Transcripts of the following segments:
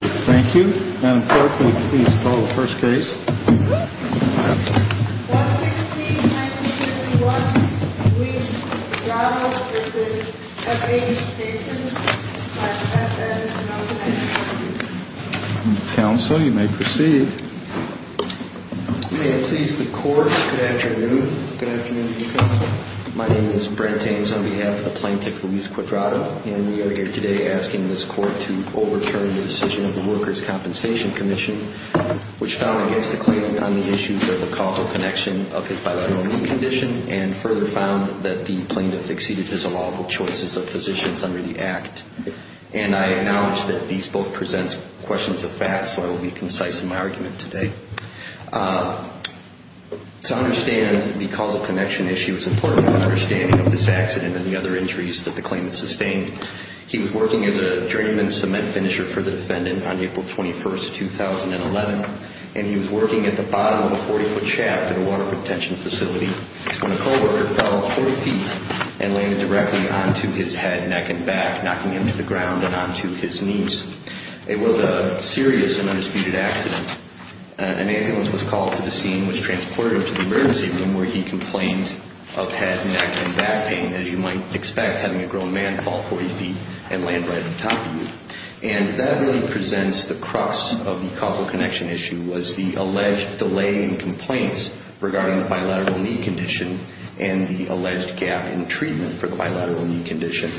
Thank you. Madam Clerk, will you please call the first case? 116-1951, Luis Cuadrado v. FAA Stations. Counsel, you may proceed. May it please the Court, good afternoon. Good afternoon, Chief Counsel. My name is Brent James on behalf of the plaintiff, Luis Cuadrado, and we are here today asking this Court to overturn the decision of the Workers' Compensation Commission, which fell against the claimant on the issues of the causal connection of his bilateral condition, and further found that the plaintiff exceeded his allowable choices of physicians under the Act. And I acknowledge that these both present questions of fact, so I will be concise in my argument today. To understand the causal connection issue, it's important to understand this accident and the other injuries that the claimant sustained. He was working as a drain and cement finisher for the defendant on April 21, 2011, and he was working at the bottom of a 40-foot shaft at a water retention facility when a co-worker fell 40 feet and landed directly onto his head, neck, and back, knocking him to the ground and onto his knees. It was a serious and undisputed accident. An ambulance was called to the scene and was transported to the emergency room where he complained of head, neck, and back pain, as you might expect having a grown man fall 40 feet and land right on top of you. And that really presents the crux of the causal connection issue, was the alleged delay in complaints regarding the bilateral knee condition and the alleged gap in treatment for the bilateral knee condition.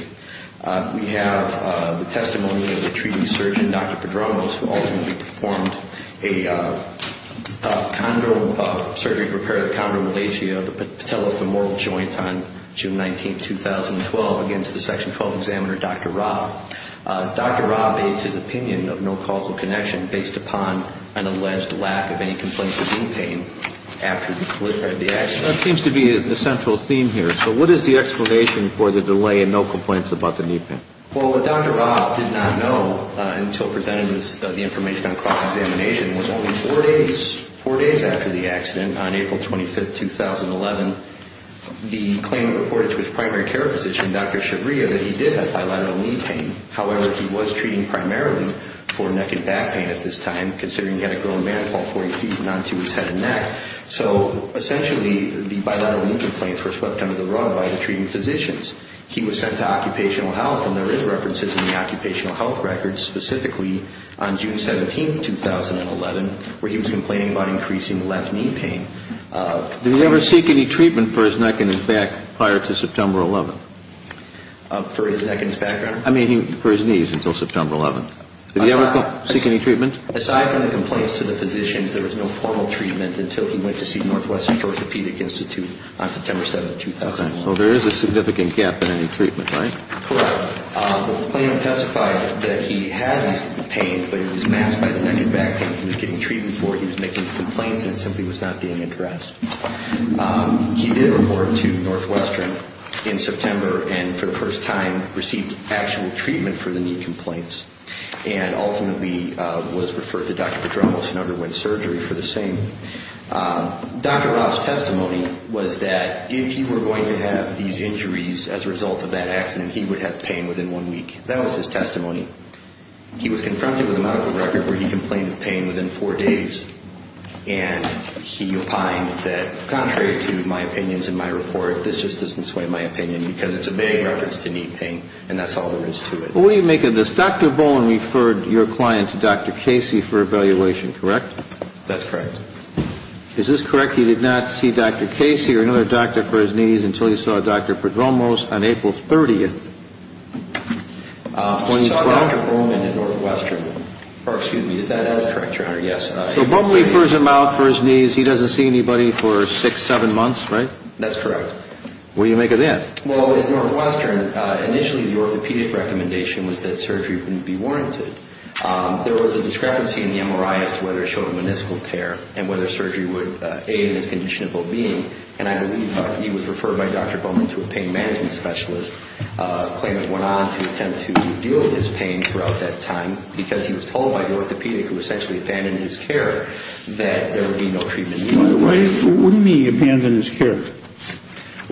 We have the testimony of the treating surgeon, Dr. Pedramos, who ultimately performed a surgery to repair the chondromalacia of the patellofemoral joint on June 19, 2012, against the Section 12 examiner, Dr. Raab. Dr. Raab based his opinion of no causal connection based upon an alleged lack of any complaints of knee pain after the accident. That seems to be the central theme here. So what is the explanation for the delay in no complaints about the knee pain? Well, Dr. Raab did not know until presented the information on cross-examination. It was only four days after the accident, on April 25, 2011, the claim reported to his primary care physician, Dr. Shabria, that he did have bilateral knee pain. However, he was treating primarily for neck and back pain at this time, so essentially the bilateral knee complaints were swept under the rug by the treating physicians. He was sent to occupational health, and there is references in the occupational health records specifically on June 17, 2011, where he was complaining about increasing left knee pain. Did he ever seek any treatment for his neck and his back prior to September 11? For his neck and his back, Your Honor? I mean for his knees until September 11. Aside from the complaints to the physicians, there was no formal treatment until he went to see Northwestern Orthopedic Institute on September 7, 2011. Okay. Well, there is a significant gap in any treatment, right? Correct. The claim testified that he had his pain, but it was masked by the neck and back pain he was getting treatment for. He was making complaints, and it simply was not being addressed. He did report to Northwestern in September and for the first time received actual treatment for the knee complaints and ultimately was referred to Dr. Pedramos in underwent surgery for the same. Dr. Rob's testimony was that if he were going to have these injuries as a result of that accident, he would have pain within one week. That was his testimony. He was confronted with a medical record where he complained of pain within four days, and he opined that contrary to my opinions in my report, this just doesn't sway my opinion because it's a vague reference to knee pain, and that's all there is to it. Well, what do you make of this? Dr. Bowman referred your client to Dr. Casey for evaluation, correct? That's correct. Is this correct? He did not see Dr. Casey or another doctor for his knees until he saw Dr. Pedramos on April 30, 2012? He saw Dr. Bowman at Northwestern. Excuse me. Is that correct, Your Honor? Yes. So Bowman refers him out for his knees. He doesn't see anybody for six, seven months, right? That's correct. What do you make of that? Well, at Northwestern, initially the orthopedic recommendation was that surgery wouldn't be warranted. There was a discrepancy in the MRI as to whether it showed a meniscal tear and whether surgery would aid in his condition of well-being, and I believe he was referred by Dr. Bowman to a pain management specialist. The claimant went on to attempt to heal his pain throughout that time because he was told by the orthopedic who essentially abandoned his care that there would be no treatment in the other way. Why wouldn't he abandon his care?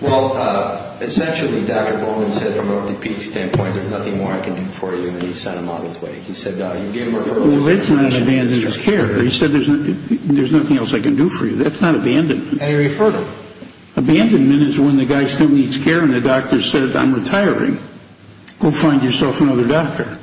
Well, essentially, Dr. Bowman said from an orthopedic standpoint, there's nothing more I can do for you, and he sent him out of his way. He said, you gave him a referral. Well, it's not abandoning his care. He said, there's nothing else I can do for you. That's not abandonment. And he referred him. Abandonment is when the guy still needs care and the doctor said, I'm retiring. Go find yourself another doctor.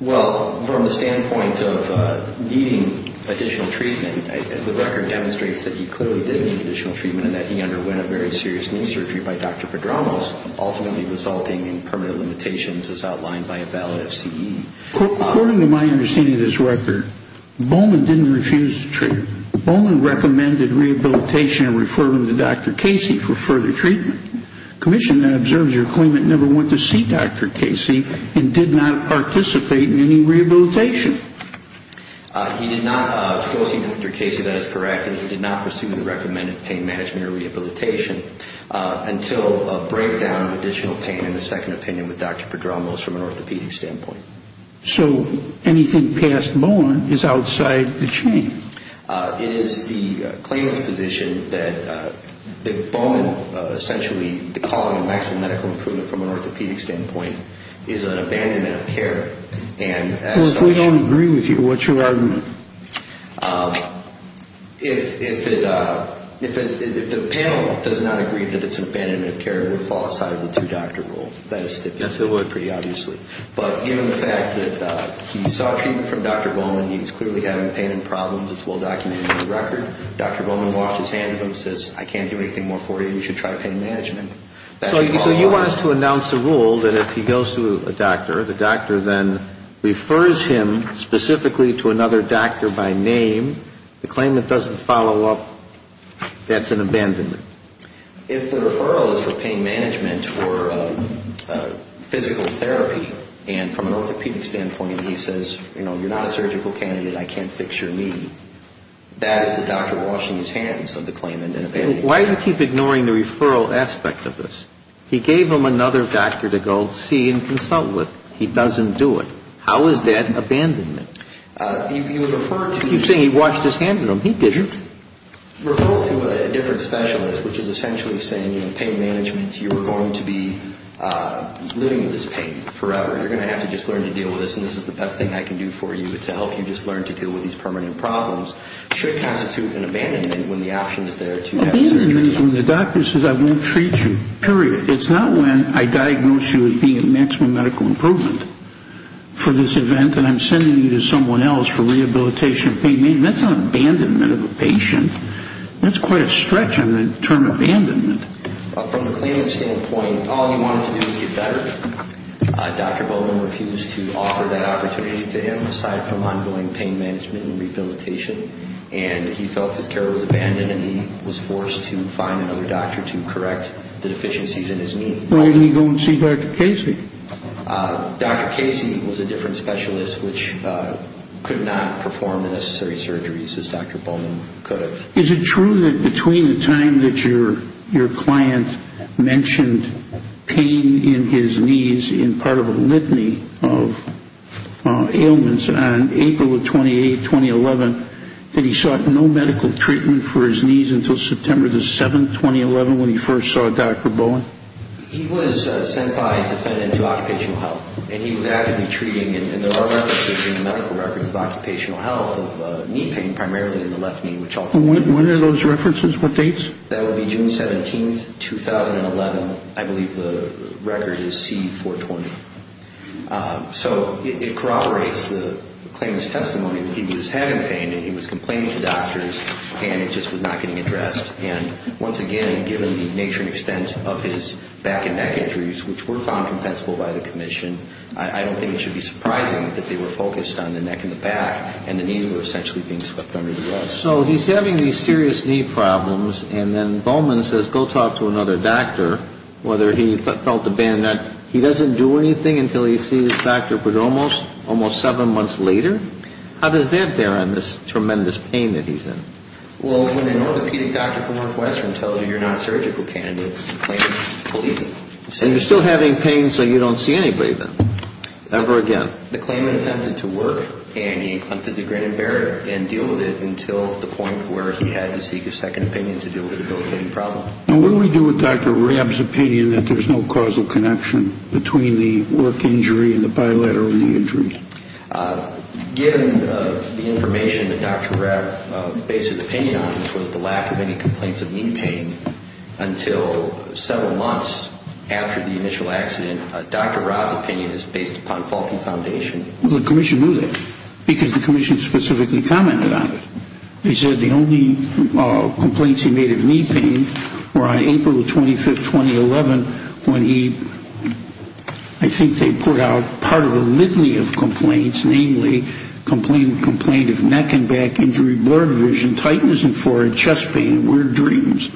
Well, from the standpoint of needing additional treatment, the record demonstrates that he clearly did need additional treatment and that he underwent a very serious knee surgery by Dr. Pedramos, ultimately resulting in permanent limitations as outlined by a valid FCE. According to my understanding of this record, Bowman didn't refuse the treatment. Bowman recommended rehabilitation and referred him to Dr. Casey for further treatment. The commission that observes your claimant never went to see Dr. Casey and did not participate in any rehabilitation. He did not go see Dr. Casey, that is correct, and he did not pursue the recommended pain management or rehabilitation until a breakdown of additional pain in the second opinion with Dr. Pedramos from an orthopedic standpoint. So anything past Bowman is outside the chain. It is the claimant's position that Bowman essentially, the calling of maximum medical improvement from an orthopedic standpoint, is an abandonment of care. Well, if we don't agree with you, what's your argument? If the panel does not agree that it's an abandonment of care, it would fall outside of the two-doctor rule. That is stipulated pretty obviously. But given the fact that he sought treatment from Dr. Bowman, he was clearly having pain and problems, it's well documented in the record. Dr. Bowman washed his hands of him and says, I can't do anything more for you, you should try pain management. So you want us to announce a rule that if he goes to a doctor, the doctor then refers him specifically to another doctor by name, the claimant doesn't follow up, that's an abandonment. If the referral is for pain management or physical therapy, and from an orthopedic standpoint he says, you know, you're not a surgical candidate, I can't fix your knee, that is the doctor washing his hands of the claimant and abandoning him. Why do you keep ignoring the referral aspect of this? He gave him another doctor to go see and consult with. He doesn't do it. How is that abandonment? You're saying he washed his hands of him. He didn't. Referral to a different specialist, which is essentially saying, you know, pain management, you are going to be living with this pain forever. You're going to have to just learn to deal with this, and this is the best thing I can do for you, is to help you just learn to deal with these permanent problems, should constitute an abandonment when the option is there to have surgery. Abandonment is when the doctor says, I won't treat you, period. It's not when I diagnose you as being at maximum medical improvement for this event and I'm sending you to someone else for rehabilitation. That's not abandonment of a patient. That's quite a stretch on the term abandonment. From the claimant's standpoint, all he wanted to do was get better. Dr. Bowman refused to offer that opportunity to him, aside from ongoing pain management and rehabilitation, and he felt his care was abandoned, and he was forced to find another doctor to correct the deficiencies in his knee. Why didn't he go and see Dr. Casey? Dr. Casey was a different specialist, which could not perform the necessary surgeries as Dr. Bowman could have. Is it true that between the time that your client mentioned pain in his knees and part of a litany of ailments on April 28, 2011, that he sought no medical treatment for his knees until September 7, 2011, when he first saw Dr. Bowman? He was sent by a defendant to occupational health, and he was actively treating, and there are references in the medical records of occupational health of knee pain, primarily in the left knee. When are those references? What dates? That would be June 17, 2011. I believe the record is C-420. So it corroborates the claimant's testimony that he was having pain, and he was complaining to doctors, and it just was not getting addressed. And once again, given the nature and extent of his back and neck injuries, which were found compensable by the commission, I don't think it should be surprising that they were focused on the neck and the back, and the knees were essentially being swept under the rug. So he's having these serious knee problems, and then Bowman says, go talk to another doctor, whether he felt the band that he doesn't do anything until he sees his doctor, but almost seven months later? How does that bear on this tremendous pain that he's in? Well, when an orthopedic doctor from Northwestern tells you you're not a surgical candidate, the claimant believes it. And you're still having pain, so you don't see anybody then, ever again. The claimant attempted to work, and he attempted to grin and bear it and deal with it until the point where he had to seek a second opinion to deal with the problem. And what do we do with Dr. Rabb's opinion that there's no causal connection between the work injury and the bilateral knee injury? Given the information that Dr. Rabb bases opinion on, which was the lack of any complaints of knee pain, until several months after the initial accident, Dr. Rabb's opinion is based upon faulty foundation. Well, the commission knew that, because the commission specifically commented on it. They said the only complaints he made of knee pain were on April 25, 2011, when he, I think they put out part of a litany of complaints, namely complaint of neck and back injury, blurred vision, tightness in forehead, chest pain, weird dreams,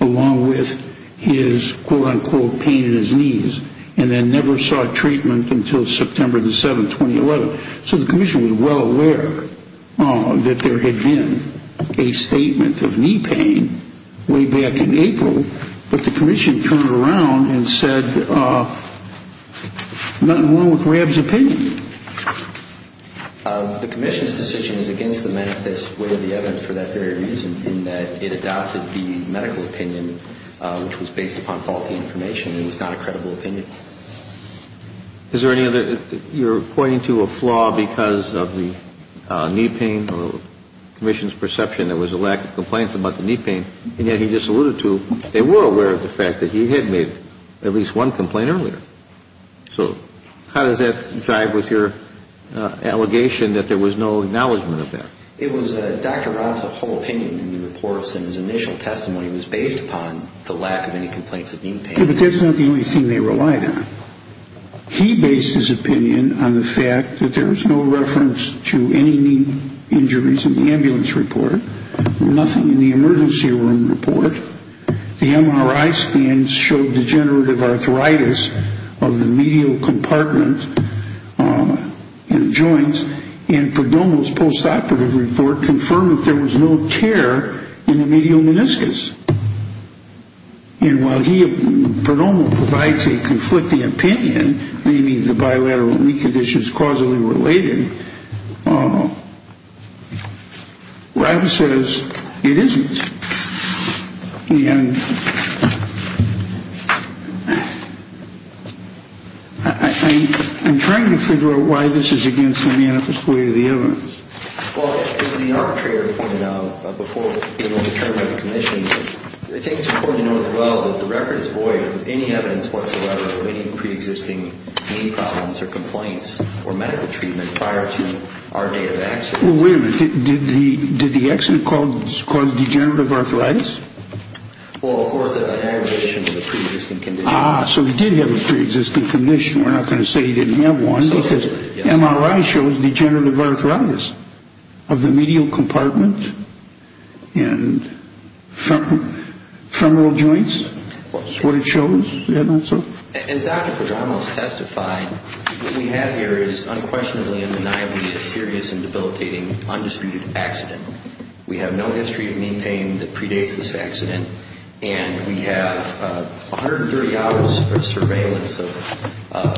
along with his, quote, unquote, pain in his knees. And then never saw treatment until September the 7th, 2011. So the commission was well aware that there had been a statement of knee pain way back in April, but the commission turned around and said, nothing wrong with Rabb's opinion. The commission's decision is against the manifest way of the evidence for that very reason, in that it adopted the medical opinion, which was based upon faulty information and was not a credible opinion. Is there any other, you're pointing to a flaw because of the knee pain, or the commission's perception there was a lack of complaints about the knee pain, and yet he just alluded to they were aware of the fact that he had made at least one complaint earlier. So how does that jive with your allegation that there was no acknowledgment of that? It was Dr. Rabb's whole opinion in the reports, and his initial testimony was based upon the lack of any complaints of knee pain. But that's not the only thing they relied on. He based his opinion on the fact that there was no reference to any knee injuries in the ambulance report, nothing in the emergency room report. The MRI scans showed degenerative arthritis of the medial compartment and joints, and Perdomo's postoperative report confirmed that there was no tear in the medial meniscus. And while Perdomo provides a conflicting opinion, meaning the bilateral knee condition is causally related, Rabb says it isn't. And I'm trying to figure out why this is against the manifest way of the evidence. Well, as the arbitrator pointed out before being overturned by the commission, I think it's important to note as well that the record is void of any evidence whatsoever of any preexisting knee problems or complaints or medical treatment prior to our date of accident. Well, wait a minute. Did the accident cause degenerative arthritis? Well, of course there's an aggravation to the preexisting condition. Ah, so he did have a preexisting condition. We're not going to say he didn't have one. MRI shows degenerative arthritis of the medial compartment and femoral joints is what it shows. As Dr. Perdomo has testified, what we have here is unquestionably and undeniably a serious and debilitating undisputed accident. We have no history of knee pain that predates this accident, and we have 130 hours of surveillance of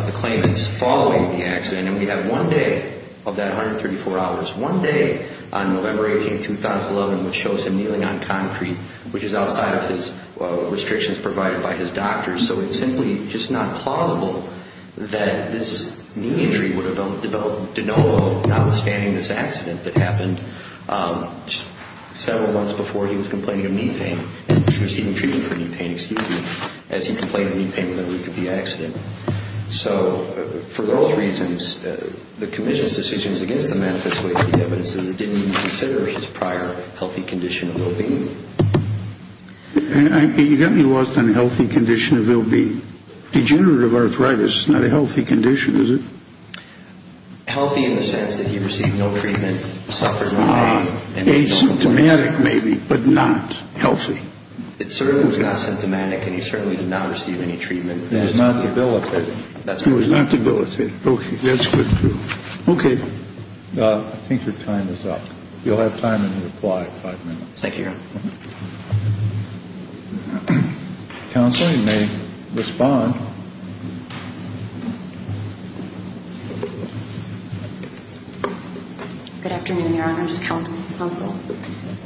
the claimants following the accident, and we have one day of that 134 hours. One day on November 18, 2011, which shows him kneeling on concrete, which is outside of his restrictions provided by his doctors. So it's simply just not plausible that this knee injury would have developed de novo, notwithstanding this accident that happened several months before he was complaining of knee pain, and receiving treatment for knee pain, excuse me, as he complained of knee pain in the week of the accident. So for those reasons, the commission's decision is against the method, as it didn't even consider his prior healthy condition of well-being. You got me lost on healthy condition of well-being. Degenerative arthritis is not a healthy condition, is it? Healthy in the sense that he received no treatment, suffered no pain. Asymptomatic maybe, but not healthy. It certainly was not symptomatic, and he certainly did not receive any treatment. He was not debilitated. He was not debilitated. Okay. That's good. Okay. I think your time is up. You'll have time to reply in five minutes. Thank you, Your Honor. Counsel, you may respond. Good afternoon, Your Honors Counsel.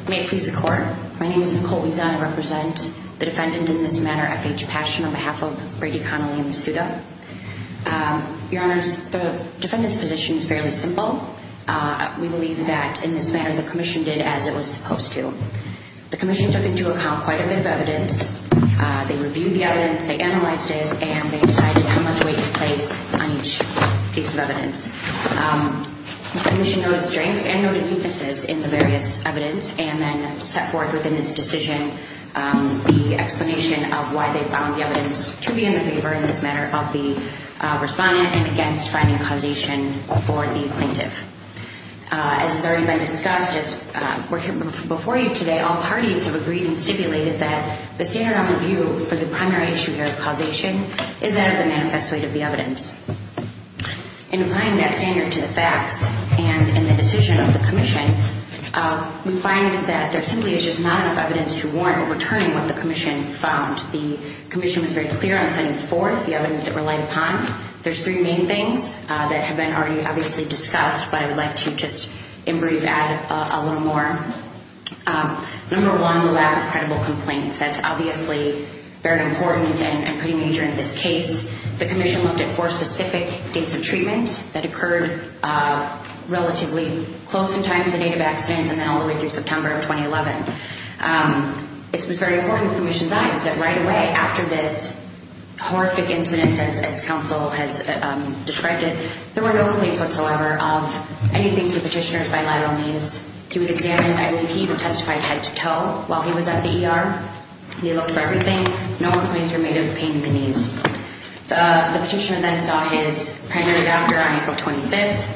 May it please the Court, my name is Nicole Wiesan. I represent the defendant in this matter, F.H. Passion, on behalf of Brady, Connelly, and Masuda. Your Honors, the defendant's position is fairly simple. We believe that in this matter the commission did as it was supposed to. The commission took into account quite a bit of evidence. They reviewed the evidence, they analyzed it, and they decided how much weight to place on each piece of evidence. The commission noted strengths and noted weaknesses in the various evidence, and then set forth within its decision the explanation of why they found the evidence to be in the favor in this matter of the respondent and against finding causation for the plaintiff. As has already been discussed, as we're here before you today, all parties have agreed and stipulated that the standard of review for the primary issue here of causation is that of the manifest weight of the evidence. In applying that standard to the facts and in the decision of the commission, we find that there simply is just not enough evidence to warrant overturning what the commission found. The commission was very clear on setting forth the evidence it relied upon. There's three main things that have been already obviously discussed, but I would like to just in brief add a little more. Number one, the lack of credible complaints. That's obviously very important and pretty major in this case. The commission looked at four specific dates of treatment that occurred relatively close in time to the date of accident and then all the way through September of 2011. It was very important to the commission's eyes that right away after this horrific incident, as counsel has described it, there were no complaints whatsoever of anything to the petitioner's bilateral needs. He was examined. I believe he testified head to toe while he was at the ER. He looked for everything. No complaints were made of pain in the knees. The petitioner then saw his primary doctor on April 25th.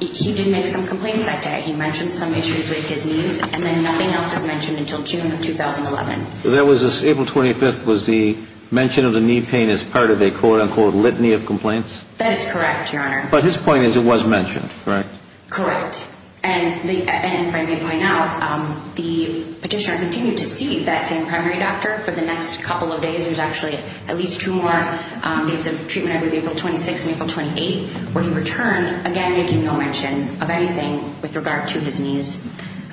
He did make some complaints that day. He mentioned some issues with his knees and then nothing else was mentioned until June of 2011. So April 25th was the mention of the knee pain as part of a quote-unquote litany of complaints? That is correct, Your Honor. But his point is it was mentioned, correct? Correct. And if I may point out, the petitioner continued to see that same primary doctor for the next couple of days. There's actually at least two more dates of treatment. I believe April 26th and April 28th where he returned, again, making no mention of anything with regard to his knees.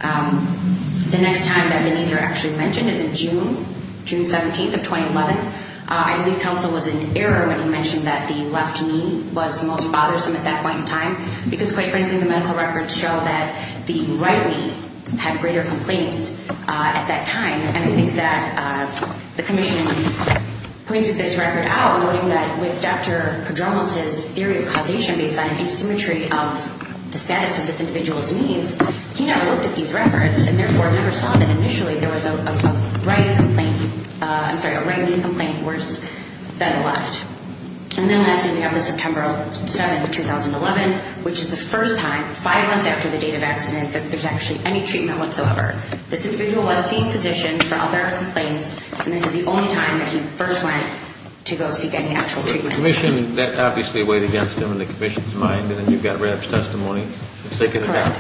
The next time that the knees are actually mentioned is in June, June 17th of 2011. I believe counsel was in error when he mentioned that the left knee was the most bothersome at that point in time because, quite frankly, the medical records show that the right knee had greater complaints at that time. And I think that the commission pointed this record out, noting that with Dr. Padronos' theory of causation based on an asymmetry of the status of this individual's knees, he never looked at these records and therefore never saw that initially there was a right knee complaint worse than a left. And then lastly, we have the September 7th of 2011, which is the first time, five months after the date of accident, that there's actually any treatment whatsoever. This individual was seeing physicians for all their complaints, and this is the only time that he first went to go seek any actual treatment. The commission obviously weighed against him in the commission's mind, and then you've got Reb's testimony. Correct.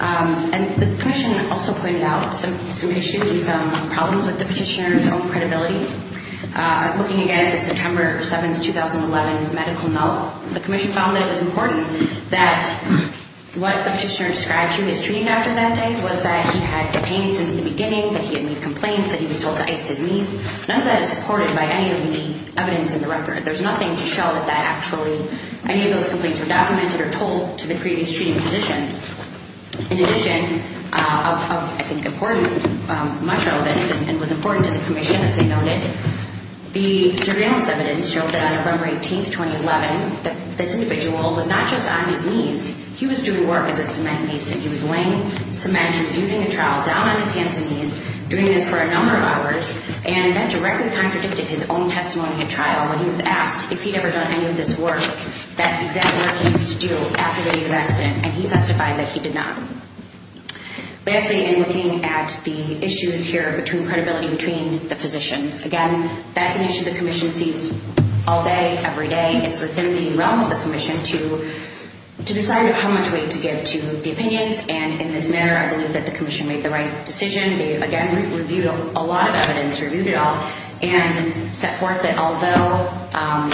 And the commission also pointed out some issues and some problems with the petitioner's own credibility. Looking again at the September 7th, 2011 medical note, the commission found that it was important that what the petitioner described to his treating doctor that day was that he had the pain since the beginning, that he had made complaints, that he was told to ice his knees. None of that is supported by any of the evidence in the record. There's nothing to show that that actually any of those complaints were documented or told to the previous treating physicians. In addition of, I think, important, much relevant and was important to the commission, as they noted, the surveillance evidence showed that on November 18th, 2011, that this individual was not just on his knees. He was doing work as a cement mason. He was laying cement. He was using a trowel down on his hands and knees, doing this for a number of hours, and that directly contradicted his own testimony at trial. He was asked if he'd ever done any of this work, that exact work he used to do after the accident, and he testified that he did not. Lastly, in looking at the issues here between credibility between the physicians, again, that's an issue the commission sees all day, every day. It's within the realm of the commission to decide how much weight to give to the opinions, and in this matter, I believe that the commission made the right decision. They, again, reviewed a lot of evidence, reviewed it all, and set forth that although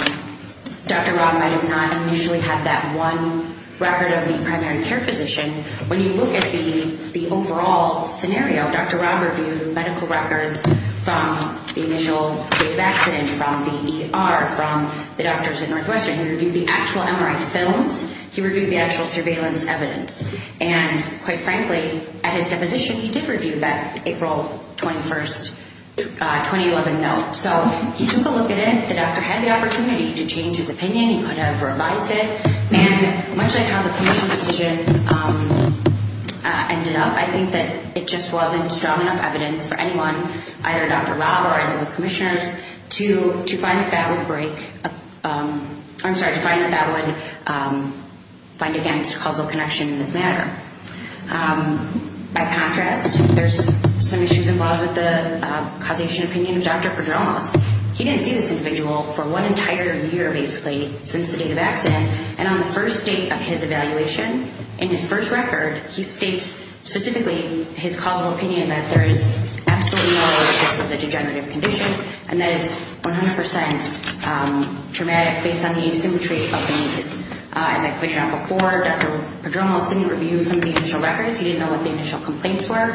Dr. Robb might have not initially had that one record of a primary care physician, when you look at the overall scenario, Dr. Robb reviewed medical records from the initial case of accident, from the ER, from the doctors at Northwestern. He reviewed the actual MRI films. He reviewed the actual surveillance evidence. And quite frankly, at his deposition, he did review that April 21st, 2011 note. So he took a look at it. If the doctor had the opportunity to change his opinion, he could have revised it. And much like how the commission decision ended up, I think that it just wasn't strong enough evidence for anyone, either Dr. Robb or any of the commissioners, to find that that would break up or, I'm sorry, to find that that would find against causal connection in this matter. By contrast, there's some issues involved with the causation opinion of Dr. Pedronos. He didn't see this individual for one entire year, basically, since the date of accident, and on the first date of his evaluation, in his first record, he states specifically his causal opinion that there is absolutely no way that this is a degenerative condition and that it's 100 percent traumatic based on the asymmetry of the need. As I pointed out before, Dr. Pedronos didn't review some of the initial records. He didn't know what the initial complaints were.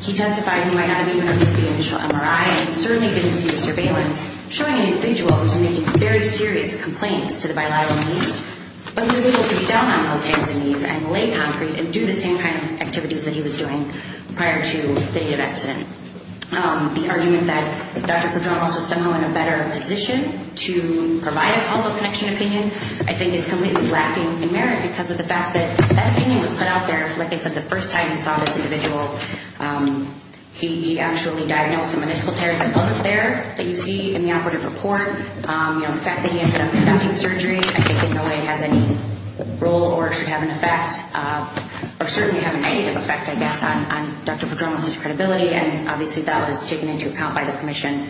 He testified he might not have even reviewed the initial MRI and certainly didn't see the surveillance, showing an individual who was making very serious complaints to the bilateral needs, but he was able to be down on those hands and knees and lay concrete and do the same kind of activities that he was doing prior to the date of accident. The argument that Dr. Pedronos was somehow in a better position to provide a causal connection opinion, I think, is completely lacking in merit because of the fact that that opinion was put out there, like I said, the first time you saw this individual, he actually diagnosed a municipal terror that wasn't there that you see in the operative report. The fact that he ended up conducting surgery, I think, in no way has any role or should have an effect or certainly have a negative effect, I guess, on Dr. Pedronos' credibility, and obviously that was taken into account by the commission.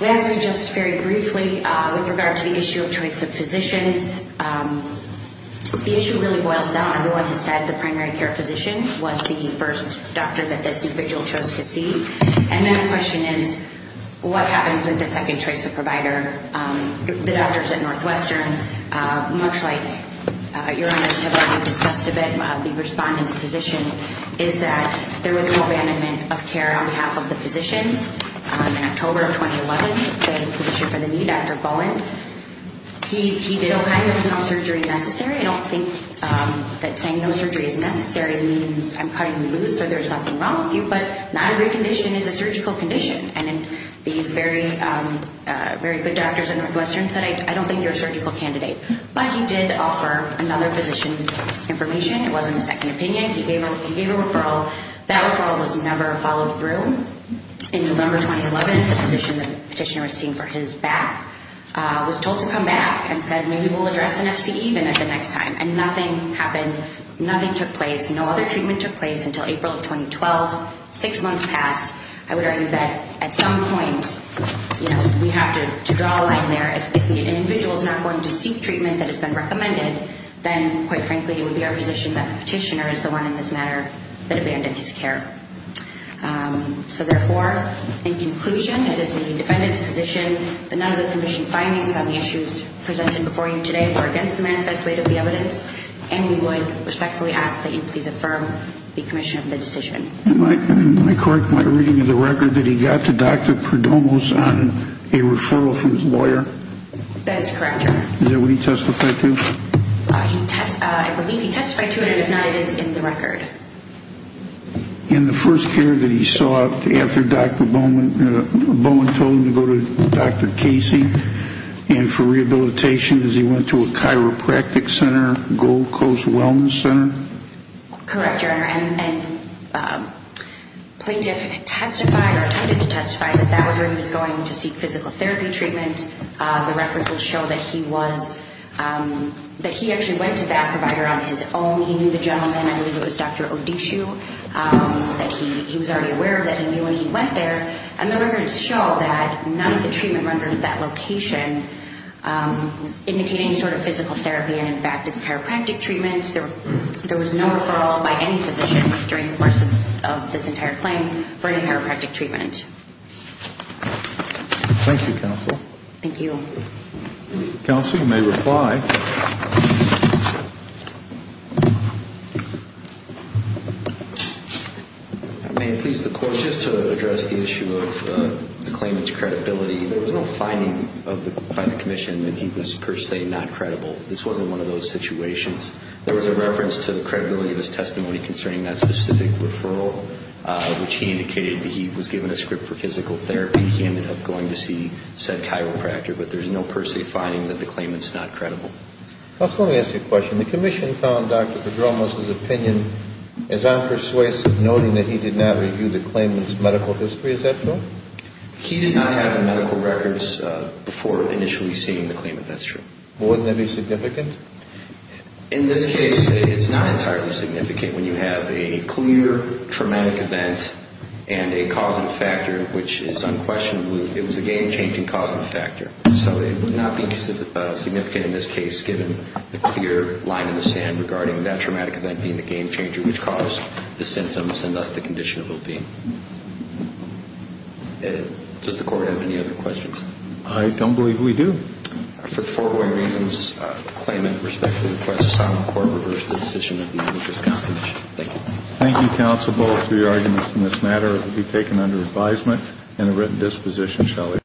Lastly, just very briefly, with regard to the issue of choice of physicians, the issue really boils down, everyone has said the primary care physician was the first doctor that this individual chose to see. And then the question is, what happens with the second choice of provider? The doctors at Northwestern, much like your honors have already discussed a bit, the respondent's position is that there was no abandonment of care on behalf of the physicians. In October of 2011, they had a position for the new Dr. Bowen. He did okay, there was no surgery necessary. I don't think that saying no surgery is necessary means I'm cutting you loose or there's nothing wrong with you, but not a great condition is a surgical condition. And these very good doctors at Northwestern said, I don't think you're a surgical candidate. But he did offer another physician's information. It wasn't a second opinion. He gave a referral. That referral was never followed through. In November 2011, the physician the petitioner was seeing for his back was told to come back and said, maybe we'll address NFC even at the next time. And nothing happened. Nothing took place. No other treatment took place until April of 2012. Six months passed. I would argue that at some point we have to draw a line there. If the individual is not going to seek treatment that has been recommended, then quite frankly it would be our position that the petitioner is the one in this matter that abandoned his care. So therefore, in conclusion, it is the defendant's position that none of the commissioned findings on the issues presented before you today were against the manifest weight of the evidence, and we would respectfully ask that you please affirm the commission of the decision. Am I correct in my reading of the record that he got to Dr. Perdomo's on a referral from his lawyer? That is correct, Your Honor. Is that what he testified to? I believe he testified to it, and if not, it is in the record. In the first care that he sought after Bowman told him to go to Dr. Casey and for rehabilitation as he went to a chiropractic center, Gold Coast Wellness Center? Correct, Your Honor. And the plaintiff testified or attempted to testify that that was where he was going to seek physical therapy treatment. The record will show that he actually went to that provider on his own. He knew the gentleman. I believe it was Dr. Odishu that he was already aware of that he knew when he went there. And the records show that none of the treatment rendered at that location indicated any sort of physical therapy, and in fact it's chiropractic treatment. There was no referral by any physician during the course of this entire claim for any chiropractic treatment. Thank you, Counsel. Thank you. Counsel, you may reply. May it please the Court, just to address the issue of the claimant's credibility, there was no finding by the commission that he was per se not credible. This wasn't one of those situations. There was a reference to the credibility of his testimony concerning that specific referral, which he indicated that he was given a script for physical therapy. He ended up going to see said chiropractor. But there's no per se finding that the claimant's not credible. Counsel, let me ask you a question. The commission found Dr. Pedromos' opinion as unpersuasive, noting that he did not review the claimant's medical history. Is that true? He did not have the medical records before initially seeing the claimant. That's true. Well, wouldn't that be significant? In this case, it's not entirely significant. When you have a clear traumatic event and a causative factor, which is unquestionably, it was a game-changing causative factor. So it would not be significant in this case, given the clear line in the sand regarding that traumatic event being the game-changer, which caused the symptoms and thus the condition of Opie. Does the Court have any other questions? I don't believe we do. For foregoing reasons, the claimant respectfully requests the silent court reverse the decision at the end of this competition. Thank you. Thank you, Counsel. Both of your arguments in this matter will be taken under advisement, and a written disposition shall be issued.